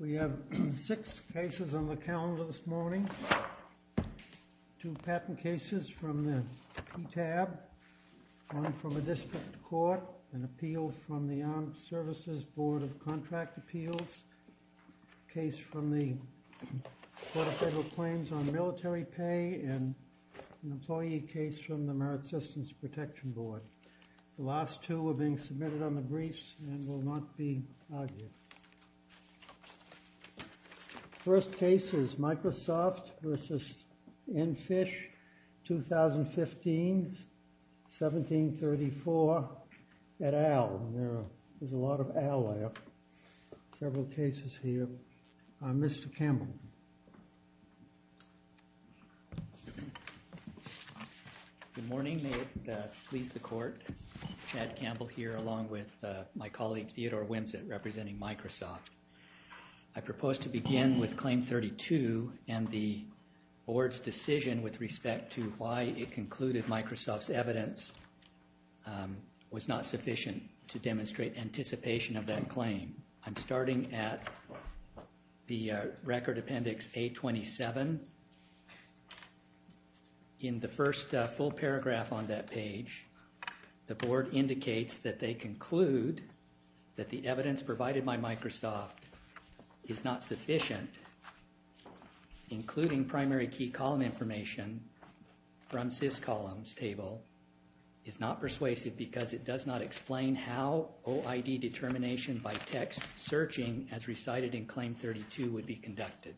We have six cases on the calendar this morning. Two patent cases from the PTAB, one from a district court, an appeal from the Armed Services Board of Contract Appeals, a case from the Federal Claims on Military Pay, and an employee case from the Merit Systems Protection Board. The last two are being submitted on the briefs and will not be argued. First case is Microsoft v. Enfish, 2015, 1734 at Al. There's a lot of Al there. Several cases here. Mr. Campbell. Good morning. May it please the Court, Chad Campbell here along with my colleague Theodore Wimsett representing Microsoft. I propose to begin with Claim 32 and the Board's decision with respect to why it concluded Microsoft's evidence was not sufficient to claim. I'm starting at the Record Appendix A27. In the first full paragraph on that page, the Board indicates that they conclude that the evidence provided by Microsoft is not sufficient, including primary key column information from SysColumns table is not persuasive because it does not explain how OID determination by text searching as recited in Claim 32 would be conducted.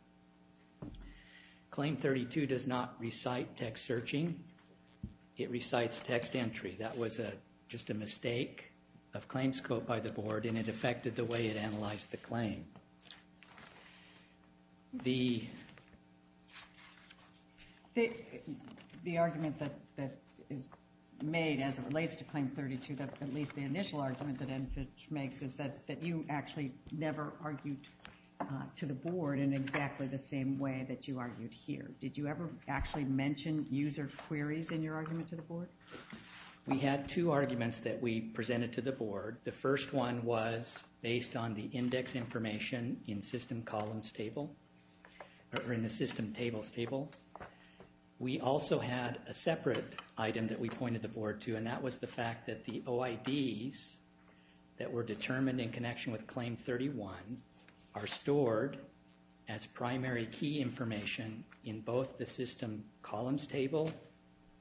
Claim 32 does not recite text searching. It recites text entry. That was just a mistake of claim scope by the Board and it affected the way it analyzed the claim. The argument that is made as it relates to Claim 32, at least the initial argument that Enfish makes, is that you actually never argued to the Board in exactly the same way that you argued here. Did you ever actually mention user queries in your argument to the Board? We had two arguments that we presented to the Board. The first one was based on the index information in SysColumns table or in the SysTables table. We also had a separate item that we pointed the Board to and that was the fact that the OIDs that were determined in connection with Claim 31 are stored as primary key information in both the SysColumns table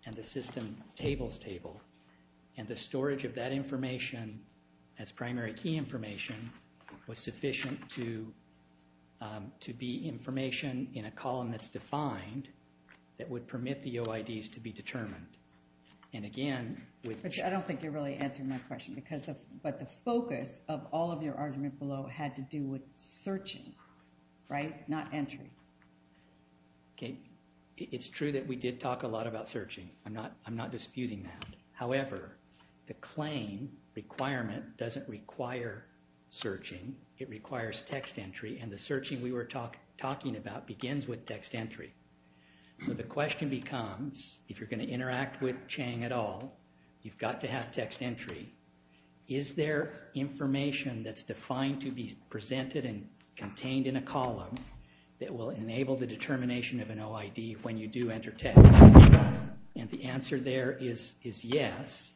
and the SysTables table and the storage of that information as primary key information was sufficient to be information in a column that's defined that would permit the OIDs to be determined. I don't think you're really answering my question, but the focus of all of your argument below had to do with searching, right? Not entry. It's true that we did talk a lot about searching. I'm not disputing that. However, the claim requirement doesn't require searching. It requires text entry, and the searching we were talking about begins with text entry. So the question becomes, if you're going to interact with Chang at all, you've got to have text entry. Is there information that's defined to be presented and contained in a column that will enable the determination of an OID when you do enter text? And the answer there is yes.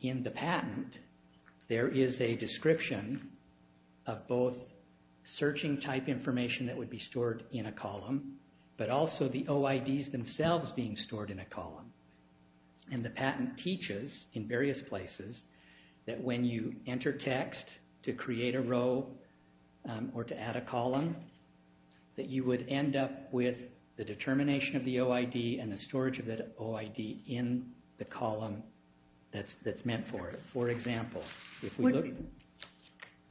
In the patent, there is a description of both searching type information that would be stored in a column, but also the OIDs themselves being stored in a column. And the patent teaches in various places that when you enter text to create a row or to add a column, that you would end up with the determination of the OID and the storage of the OID in the column that's meant for it. For example, if we look...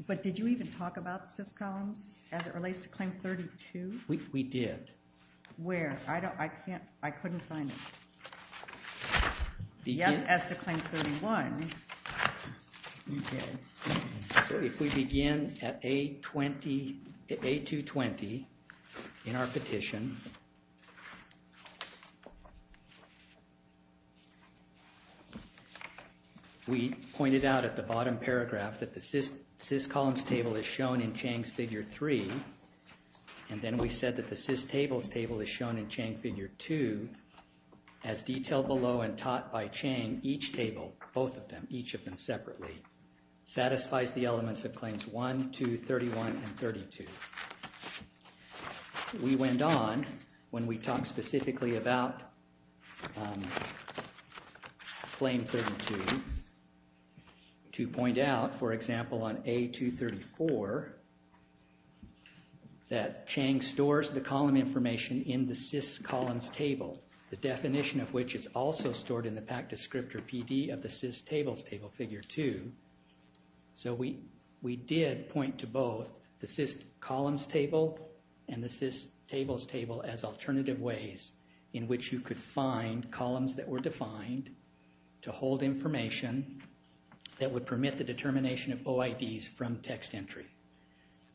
But did you even talk about the SIS columns as it relates to Claim 32? We did. Where? I couldn't find it. Yes, as to Claim 31. Okay. So if we begin at A220 in our petition, we pointed out at the bottom paragraph that the SIS columns table is shown in Chang's Figure 3, and then we said that the SIS tables table is shown in Chang's Figure 2. As detailed below and taught by Chang, each table, both of them, each of them separately, satisfies the elements of Claims 1, 2, 31, and 32. We went on, when we talked specifically about Claim 32, to point out, for example, on A234, that Chang stores the column information in the SIS columns table, the definition of which is also stored in the PAC Descriptor PD of the SIS tables table, Figure 2. So we did point to both the SIS columns table and the SIS tables table as alternative ways in which you could find columns that were defined to hold information that would permit the determination of OIDs from text entry.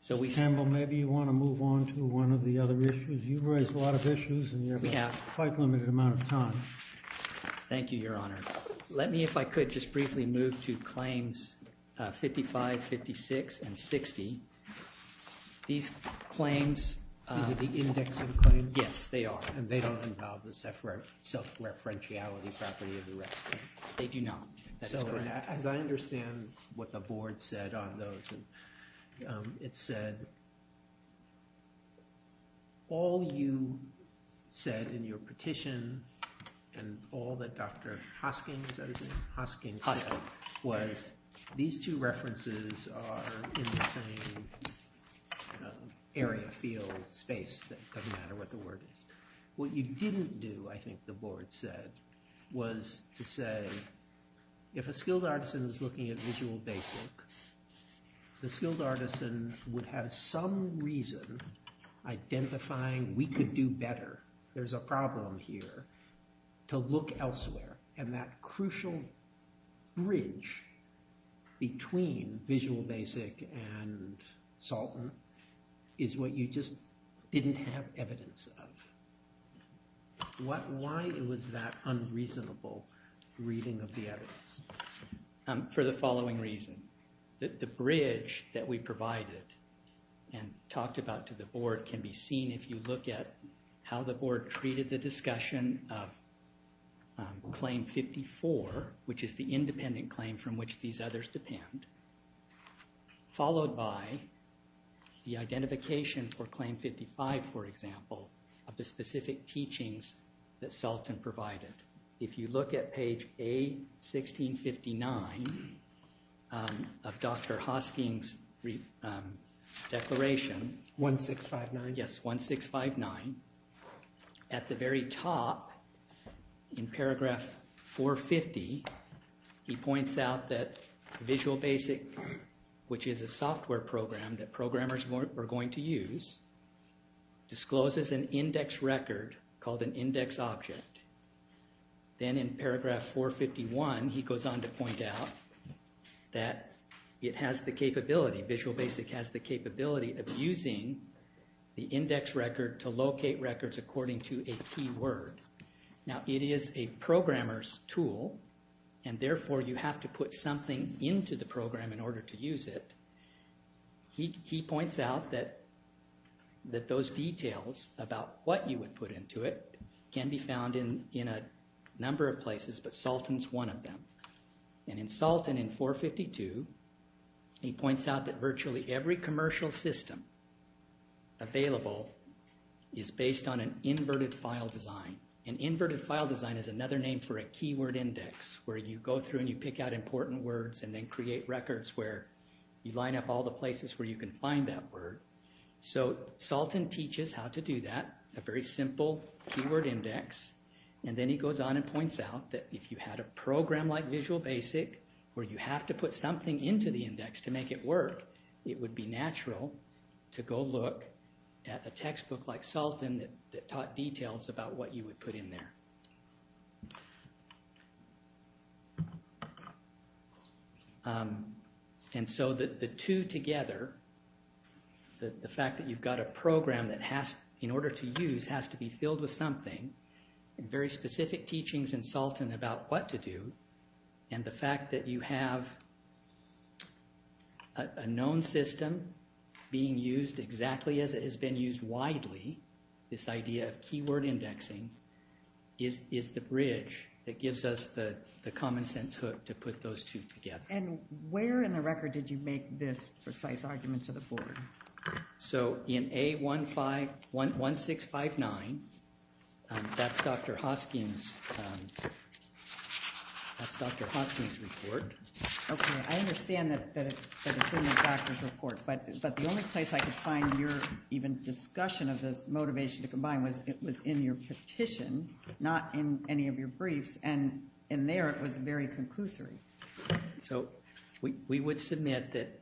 Mr. Campbell, maybe you want to move on to one of the other issues? You've raised a lot of issues, and you have a quite limited amount of time. Thank you, Your Honor. Let me, if I could, just briefly move to Claims 55, 56, and 60. These claims... These are the indexing claims? Yes, they are. And they don't involve the self-referentiality property of the rescuer? They do not. So as I understand what the Board said on those, it said, all you said in your petition, and all that Dr. Hosking said, was these two references are in the same area, field, space. It doesn't matter what the word is. What you didn't do, I think the Board said, was to say, if a skilled artisan was looking at Visual Basic, the skilled artisan would have some reason identifying we could do better. There's a problem here to look elsewhere, and that crucial bridge between Visual Basic and Salton is what you just didn't have evidence of. Why was that unreasonable reading of the evidence? For the following reason. The bridge that we provided and talked about to the Board can be seen if you look at how the Board treated the discussion of Claim 54, which is the independent claim from which these others depend, followed by the identification for Claim 55, for example, of the specific teachings that Salton provided. If you look at page A1659 of Dr. Hosking's declaration, 1659, at the very top, in paragraph 450, he points out that Visual Basic, which is a software program that programmers were going to use, discloses an index record called an index object. Then in paragraph 451, he goes on to point out that it has the capability, Visual Basic has the capability of using the index record to locate records according to a keyword. Now, it is a programmer's tool, and therefore you have to put something into the program in order to use it. He points out that those details about what you would put into it can be found in a number of places, but Salton's one of them. And in Salton in 452, he points out that virtually every commercial system available is based on an inverted file design. An inverted file design is another name for a keyword index, where you go through and you pick out important words and then create records where you line up all the places where you can find that word. So, Salton teaches how to do that, a very simple keyword index, and then he goes on and points out that if you had a program like Visual Basic, where you have to put something into the index to make it work, it would be natural to go look at a textbook like Salton that taught details about what you would put in there. And so the two together, the fact that you've got a program that in order to use has to be filled with something, very specific teachings in Salton about what to do, and the fact that you have a known system being used exactly as it has been used widely, this idea of keyword indexing, is the bridge that gives us the common sense hook to put those two together. And where in the record did you make this precise argument to the fore? So in A1659, that's Dr. Hosking's report. Okay, I understand that it's in the doctor's report, but the only place I could find your even discussion of this motivation to combine was in your petition, not in any of your briefs, and in there it was very conclusory. So we would submit that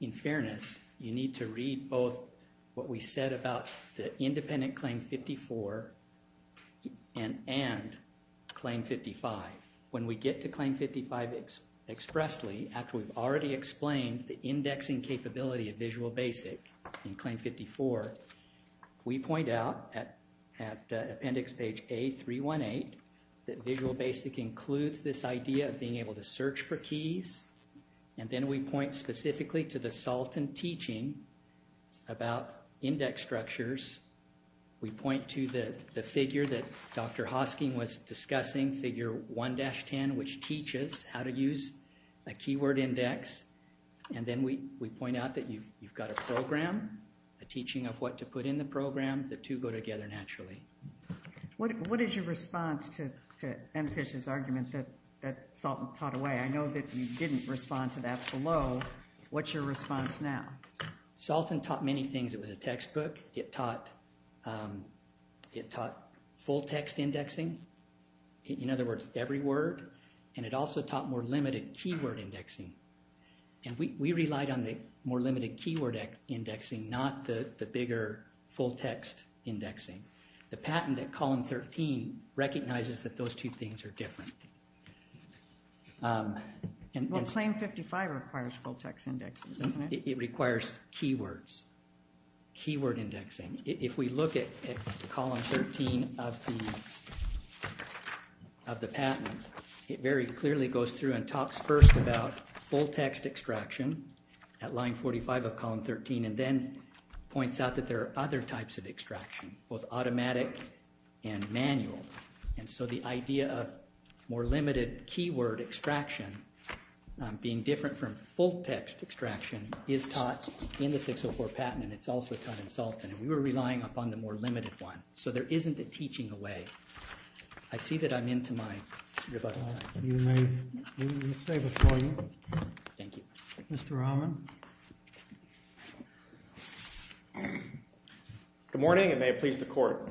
in fairness, you need to read both what we said about the independent Claim 54 and Claim 55. When we get to Claim 55 expressly, after we've already explained the indexing capability of Visual Basic in Claim 54, we point out at appendix page A318 that Visual Basic includes this idea of being able to search for keys, and then we point specifically to the Salton teaching about index structures. We point to the figure that Dr. Hosking was discussing, figure 1-10, which teaches how to use a keyword index, and then we point out that you've got a program, a teaching of what to put in the program, the two go together naturally. What is your response to M. Fish's argument that Salton taught away? I know that you didn't respond to that below. What's your response now? Salton taught many things. It was a textbook. It taught full-text indexing, in other words, every word, and it also taught more limited keyword indexing. We relied on the more limited keyword indexing, not the bigger full-text indexing. The patent at column 13 recognizes that those two things are different. Well, Claim 55 requires full-text indexing, doesn't it? It requires keywords, keyword indexing. If we look at column 13 of the patent, it very clearly goes through and talks first about full-text extraction at line 45 of column 13, and then points out that there are other types of extraction, both automatic and manual, and so the idea of more limited keyword extraction being different from full-text extraction is taught in the 604 patent, and it's also taught in Salton. We were relying upon the more limited one, so there isn't a teaching away. I see that I'm into my rebuttal. We will stay before you. Thank you. Mr. Rahman? Good morning, and may it please the Court.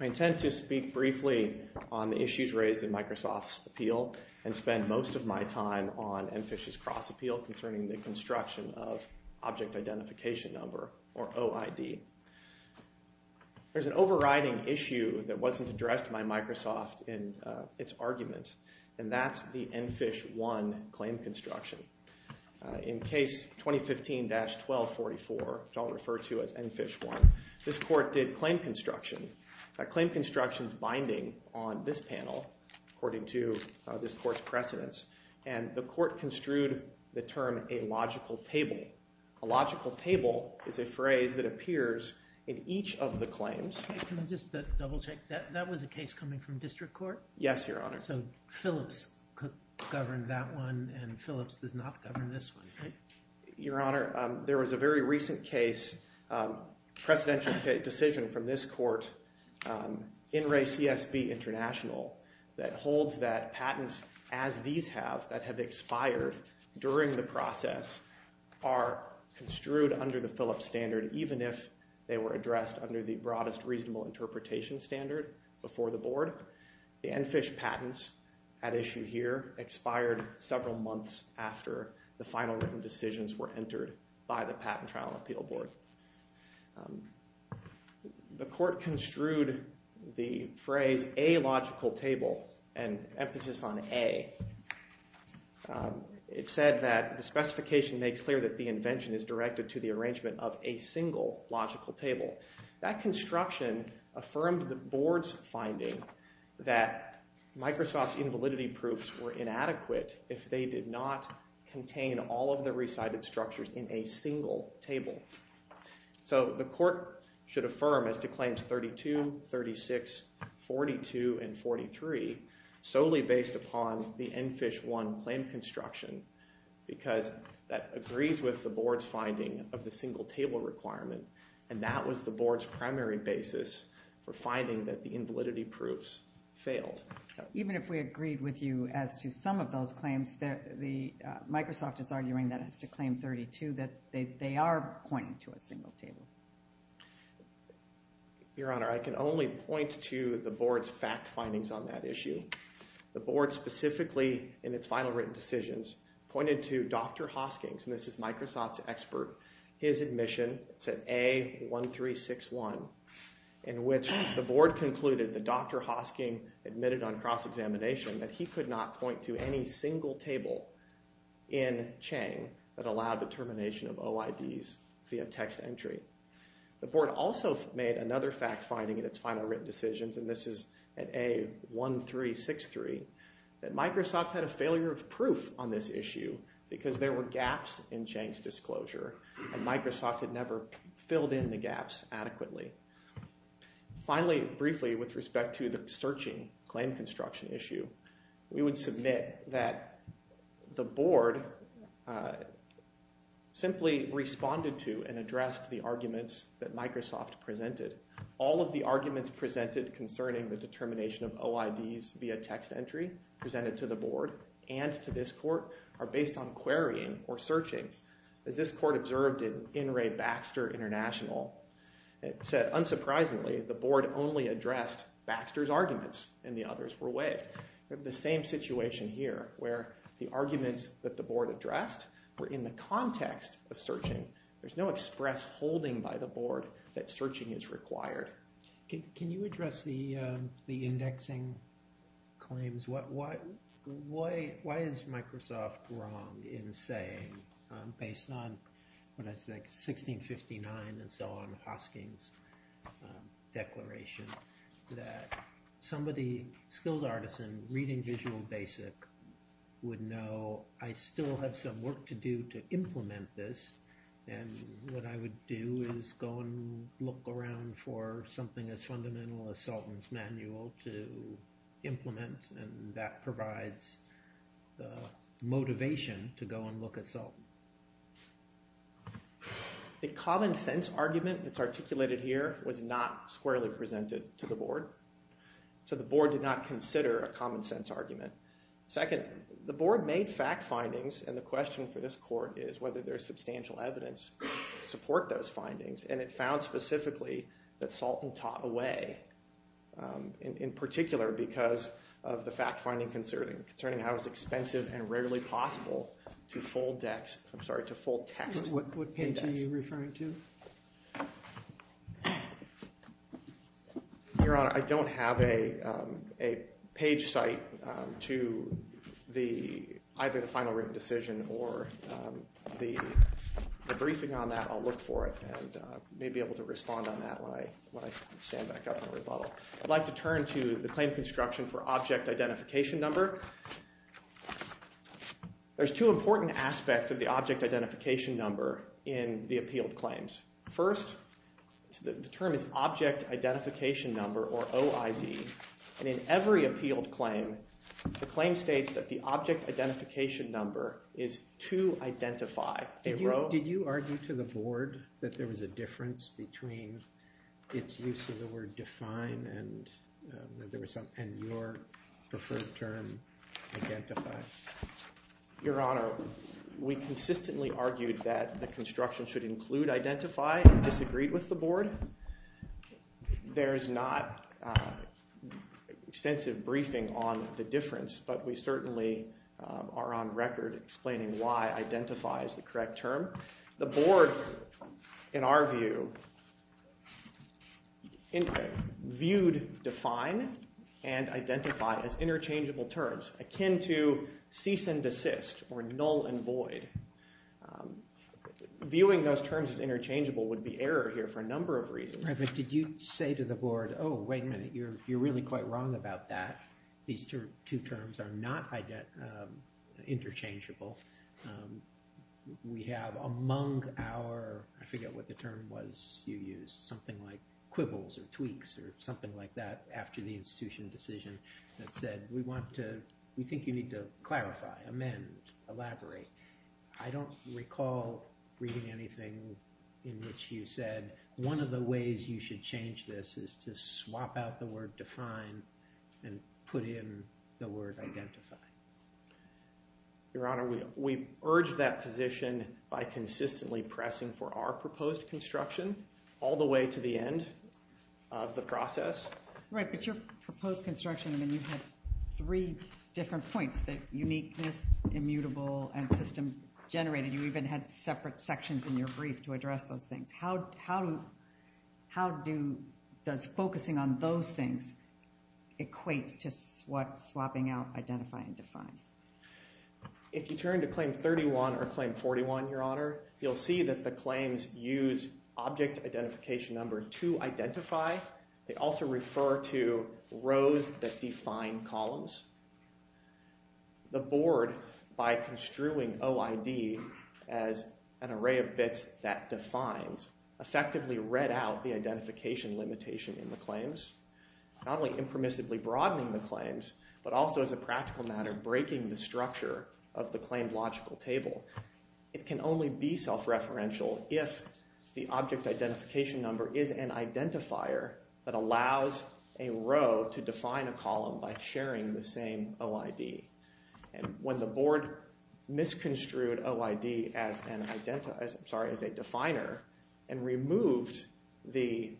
I intend to speak briefly on the issues raised in Microsoft's appeal and spend most of my time on MFISH's cross-appeal concerning the construction of object identification number, or OID. There's an overriding issue that wasn't addressed by Microsoft in its argument, and that's the MFISH 1 claim construction. In case 2015-1244, which I'll refer to as MFISH 1, this Court did claim construction. Claim construction is binding on this panel, according to this Court's precedence, and the Court construed the term a logical table. A logical table is a phrase that appears in each of the claims. Can I just double-check? That was a case coming from district court? Yes, Your Honor. So Phillips governed that one, and Phillips does not govern this one, right? Your Honor, there was a very recent case, a precedential decision from this Court, In Re CSB International, that holds that patents as these have, that have expired during the process, are construed under the Phillips standard, even if they were addressed under the broadest reasonable interpretation standard before the Board. The MFISH patents at issue here expired several months after the final written decisions were entered by the Patent Trial Appeal Board. The Court construed the phrase a logical table, and emphasis on a. It said that the specification makes clear that the invention is directed to the arrangement of a single logical table. That construction affirmed the Board's finding that Microsoft's invalidity proofs were inadequate if they did not contain all of the recited structures in a single table. So the Court should affirm as to claims 32, 36, 42, and 43 solely based upon the MFISH 1 claim construction, because that agrees with the Board's finding of the single table requirement, and that was the Board's primary basis for finding that the invalidity proofs failed. Even if we agreed with you as to some of those claims, Microsoft is arguing that as to claim 32, that they are pointing to a single table. Your Honor, I can only point to the Board's fact findings on that issue. The Board specifically in its final written decisions pointed to Dr. Hosking's, and this is Microsoft's expert, his admission, it's at A1361, in which the Board concluded that Dr. Hosking admitted on cross-examination that he could not point to any single table in Chang that allowed determination of OIDs via text entry. The Board also made another fact finding in its final written decisions, and this is at A1363, that Microsoft had a failure of proof on this issue because there were gaps in Chang's disclosure, and Microsoft had never filled in the gaps adequately. Finally, briefly, with respect to the searching claim construction issue, we would submit that the Board simply responded to and addressed the arguments that Microsoft presented. All of the arguments presented concerning the determination of OIDs via text entry presented to the Board and to this Court are based on querying or searching. As this Court observed in In Re. Baxter International, it said, unsurprisingly, the Board only addressed Baxter's arguments and the others were waived. We have the same situation here, where the arguments that the Board addressed were in the context of searching. There's no express holding by the Board that searching is required. Can you address the indexing claims? Why is Microsoft wrong in saying, based on 1659 and so on, Hosking's declaration, that somebody skilled artisan reading Visual Basic would know, well, I still have some work to do to implement this, and what I would do is go and look around for something as fundamental as Salton's manual to implement, and that provides the motivation to go and look at Salton. The common sense argument that's articulated here was not squarely presented to the Board, so the Board did not consider a common sense argument. Second, the Board made fact findings, and the question for this Court is whether there's substantial evidence to support those findings, and it found specifically that Salton taught away, in particular because of the fact finding concerning how it was expensive and rarely possible to fold text. What page are you referring to? Your Honor, I don't have a page cite to either the final written decision or the briefing on that. I'll look for it, and may be able to respond on that when I stand back up and rebuttal. I'd like to turn to the claim construction for object identification number. There's two important aspects of the object identification number in the appealed claims. First, the term is object identification number, or OID, and in every appealed claim, the claim states that the object identification number is to identify. Did you argue to the Board that there was a difference between its use of the word define and your preferred term, identify? Your Honor, we consistently argued that the construction should include identify and disagreed with the Board. There is not extensive briefing on the difference, but we certainly are on record explaining why identify is the correct term. The Board, in our view, viewed define and identify as interchangeable terms akin to cease and desist, or null and void. Viewing those terms as interchangeable would be error here for a number of reasons. Did you say to the Board, oh, wait a minute, you're really quite wrong about that. These two terms are not interchangeable. We have among our, I forget what the term was you used, something like quibbles or tweaks or something like that after the institution decision that said we want to, we think you need to clarify, amend, elaborate. I don't recall reading anything in which you said one of the ways you should change this is to swap out the word define and put in the word identify. Your Honor, we urged that position by consistently pressing for our proposed construction all the way to the end of the process. Right, but your proposed construction, I mean, you had three different points that uniqueness, immutable, and system generated. You even had separate sections in your brief to address those things. How does focusing on those things equate to swapping out identify and define? If you turn to Claim 31 or Claim 41, your Honor, you'll see that the claims use object identification number to identify. They also refer to rows that define columns. The board, by construing OID as an array of bits that defines, effectively read out the identification limitation in the claims. Not only impermissibly broadening the claims, but also as a practical matter, breaking the structure of the claimed logical table. It can only be self-referential if the object identification number is an identifier that allows a row to define a column by sharing the same OID. When the board misconstrued OID as a definer and removed the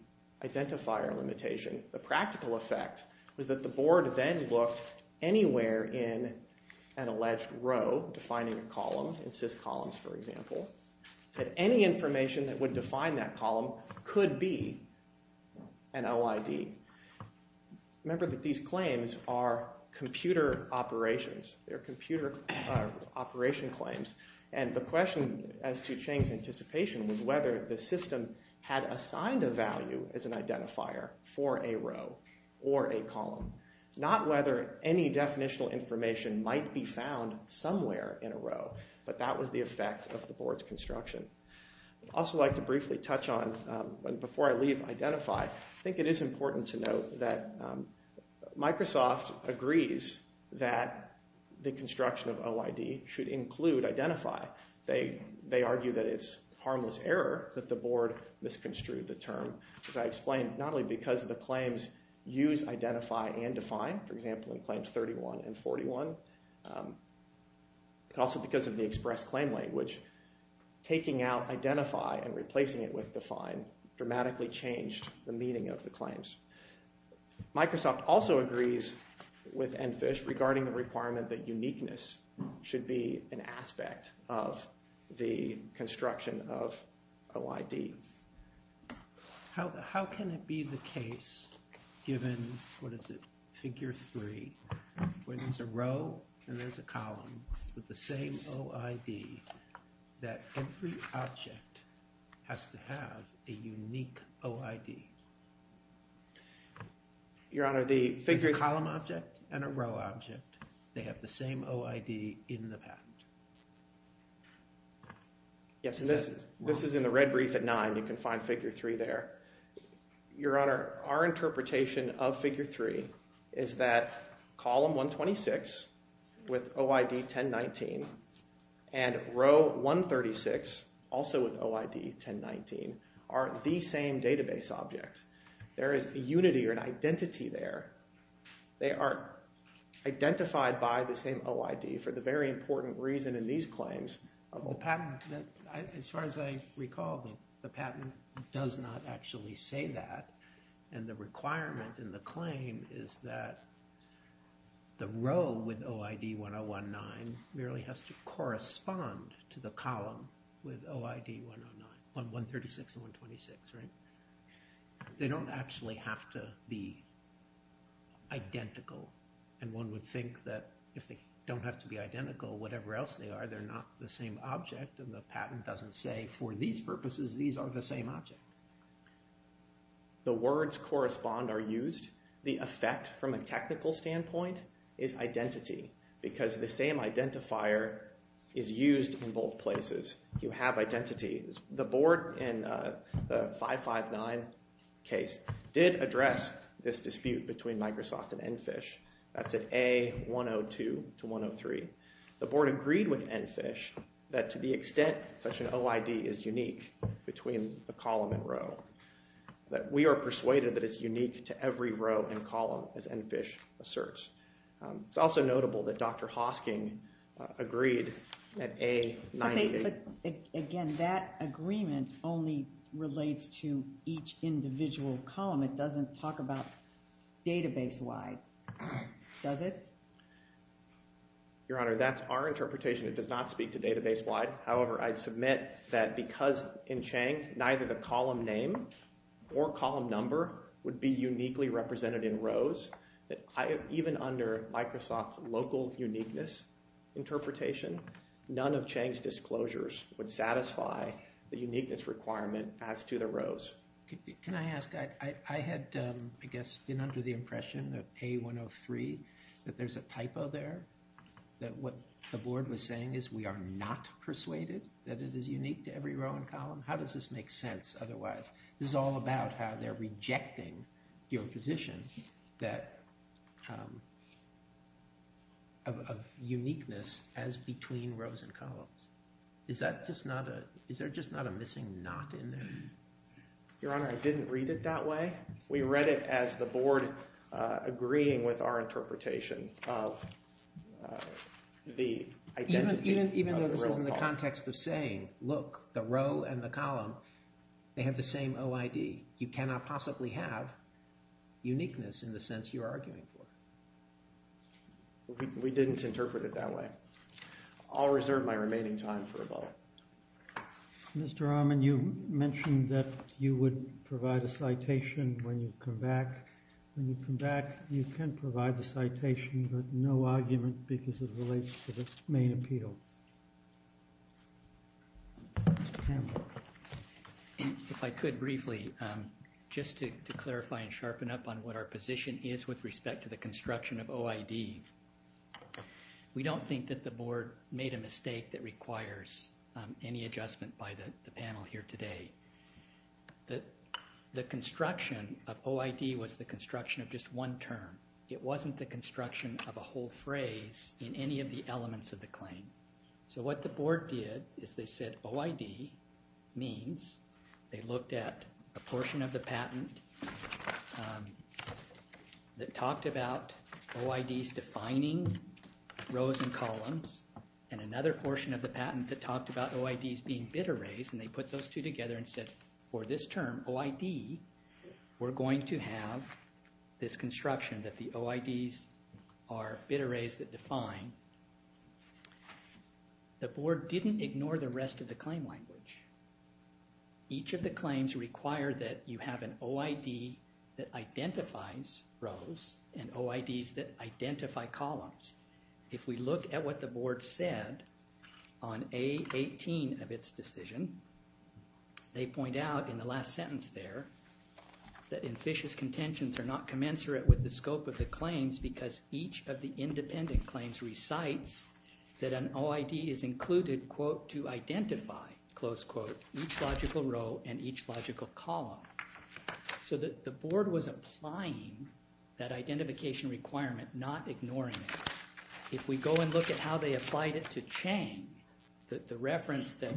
identifier limitation, the practical effect was that the board then looked anywhere in an alleged row defining a column, in sys columns for example, said any information that would define that column could be an OID. Remember that these claims are computer operations. They're computer operation claims. And the question as to Chang's anticipation was whether the system had assigned a value as an identifier for a row or a column. Not whether any definitional information might be found somewhere in a row, but that was the effect of the board's construction. I'd also like to briefly touch on, before I leave identify, I think it is important to note that Microsoft agrees that the construction of OID should include identify. They argue that it's harmless error that the board misconstrued the term. As I explained, not only because the claims use identify and define, for example in claims 31 and 41, but also because of the express claim language, taking out identify and replacing it with define dramatically changed the meaning of the claims. Microsoft also agrees with Enfish regarding the requirement that uniqueness should be an aspect of the construction of OID. How can it be the case given, what is it, figure three, where there's a row and there's a column with the same OID, that every object has to have a unique OID? Your Honor, the figure… A column object and a row object, they have the same OID in the patent. Yes, and this is in the red brief at nine. You can find figure three there. Your Honor, our interpretation of figure three is that column 126 with OID 1019 and row 136, also with OID 1019, are the same database object. There is a unity or an identity there. They are identified by the same OID for the very important reason in these claims. As far as I recall, the patent does not actually say that, and the requirement in the claim is that the row with OID 1019 merely has to correspond to the column with OID 136 and 126, right? They don't actually have to be identical, and one would think that if they don't have to be identical, whatever else they are, they're not the same object, and the patent doesn't say for these purposes, these are the same object. The words correspond are used. The effect from a technical standpoint is identity, because the same identifier is used in both places. You have identity. The board in the 559 case did address this dispute between Microsoft and ENFISH. That's at A102 to 103. The board agreed with ENFISH that to the extent such an OID is unique between the column and row, that we are persuaded that it's unique to every row and column, as ENFISH asserts. It's also notable that Dr. Hosking agreed at A98. But again, that agreement only relates to each individual column. It doesn't talk about database-wide, does it? Your Honor, that's our interpretation. It does not speak to database-wide. However, I'd submit that because in Chang, neither the column name or column number would be uniquely represented in rows, that even under Microsoft's local uniqueness interpretation, none of Chang's disclosures would satisfy the uniqueness requirement as to the rows. Can I ask? I had, I guess, been under the impression at A103 that there's a typo there, that what the board was saying is we are not persuaded that it is unique to every row and column. How does this make sense otherwise? This is all about how they're rejecting your position of uniqueness as between rows and columns. Is that just not a – is there just not a missing knot in there? Your Honor, I didn't read it that way. We read it as the board agreeing with our interpretation of the identity of the row and column. Even though this is in the context of saying, look, the row and the column, they have the same OID. You cannot possibly have uniqueness in the sense you're arguing for. We didn't interpret it that way. I'll reserve my remaining time for a vote. Mr. Ahman, you mentioned that you would provide a citation when you come back. When you come back, you can provide the citation, but no argument because it relates to the main appeal. Mr. Campbell. If I could briefly, just to clarify and sharpen up on what our position is with respect to the construction of OID. We don't think that the board made a mistake that requires any adjustment by the panel here today. The construction of OID was the construction of just one term. It wasn't the construction of a whole phrase in any of the elements of the claim. So what the board did is they said OID means they looked at a portion of the patent that talked about OIDs defining rows and columns, and another portion of the patent that talked about OIDs being bid arrays, and they put those two together and said, for this term, OID, we're going to have this construction that the OIDs are bid arrays that define. The board didn't ignore the rest of the claim language. Each of the claims require that you have an OID that identifies rows and OIDs that identify columns. If we look at what the board said on A18 of its decision, they point out in the last sentence there that each of the independent claims recites that an OID is included, quote, to identify, close quote, each logical row and each logical column. So the board was applying that identification requirement, not ignoring it. If we go and look at how they applied it to Chang, the reference that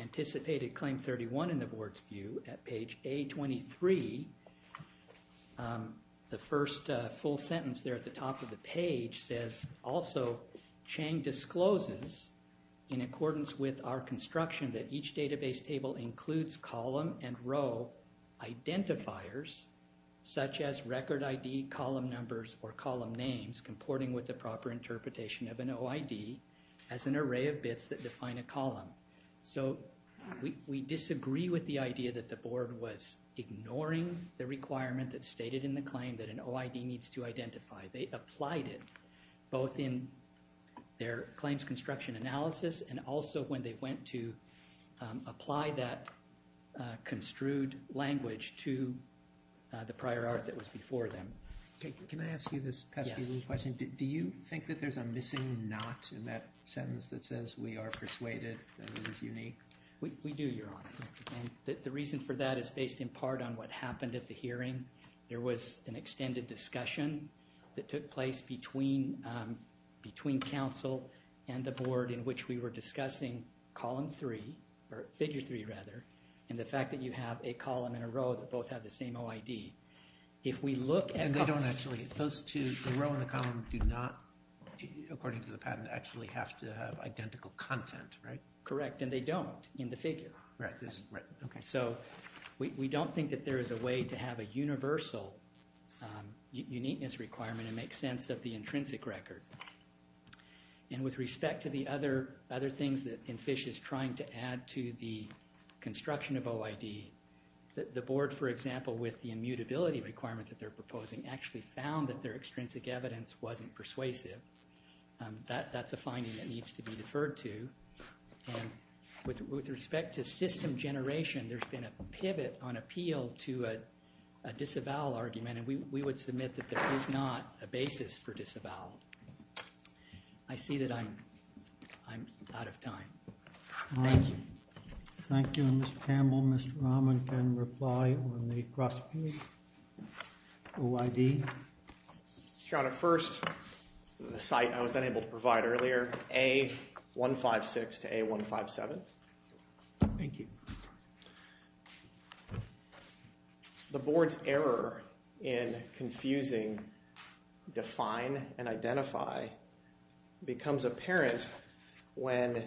anticipated Claim 31 in the board's view at page A23, the first full sentence there at the top of the page says, also, Chang discloses, in accordance with our construction, that each database table includes column and row identifiers, such as record ID, column numbers, or column names, comporting with the proper interpretation of an OID as an array of bits that define a column. So we disagree with the idea that the board was ignoring the requirement that's stated in the claim that an OID needs to identify. They applied it both in their claims construction analysis and also when they went to apply that construed language to the prior art that was before them. Can I ask you this pesky little question? Do you think that there's a missing not in that sentence that says we are persuaded that it is unique? We do, Your Honor, and the reason for that is based in part on what happened at the hearing. There was an extended discussion that took place between council and the board in which we were discussing column three, or figure three, rather, and the fact that you have a column and a row that both have the same OID. Those two, the row and the column, do not, according to the patent, actually have to have identical content, right? Correct, and they don't in the figure. Right. So we don't think that there is a way to have a universal uniqueness requirement and make sense of the intrinsic record. And with respect to the other things that EnFISH is trying to add to the construction of OID, the board, for example, with the immutability requirement that they're proposing, actually found that their extrinsic evidence wasn't persuasive. That's a finding that needs to be deferred to, and with respect to system generation, there's been a pivot on appeal to a disavowal argument, and we would submit that there is not a basis for disavowal. I see that I'm out of time. All right. Thank you. Thank you, Mr. Campbell. Mr. Rahman can reply on the cross-page OID. Your Honor, first, the site I was unable to provide earlier, A156 to A157. Thank you. The board's error in confusing define and identify becomes apparent when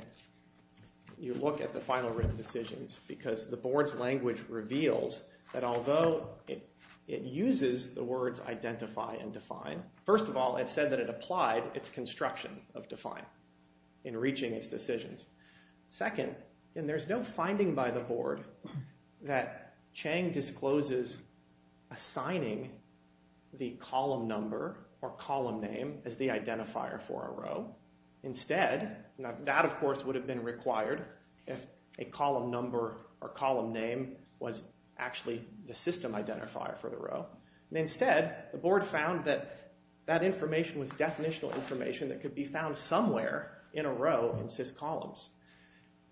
you look at the final written decisions because the board's language reveals that although it uses the words identify and define, first of all, it said that it applied its construction of define in reaching its decisions. Second, there's no finding by the board that Chang discloses assigning the column number or column name as the identifier for a row. Instead, that, of course, would have been required if a column number or column name was actually the system identifier for the row. Instead, the board found that that information was definitional information that could be found somewhere in a row in sys columns.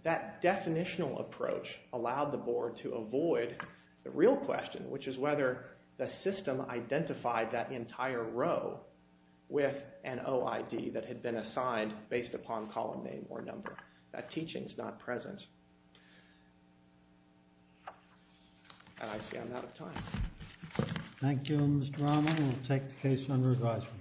That definitional approach allowed the board to avoid the real question, which is whether the system identified that entire row with an OID that had been assigned based upon column name or number. That teaching is not present. And I see I'm out of time. Thank you, Mr. Rahman. We'll take the case under advisement.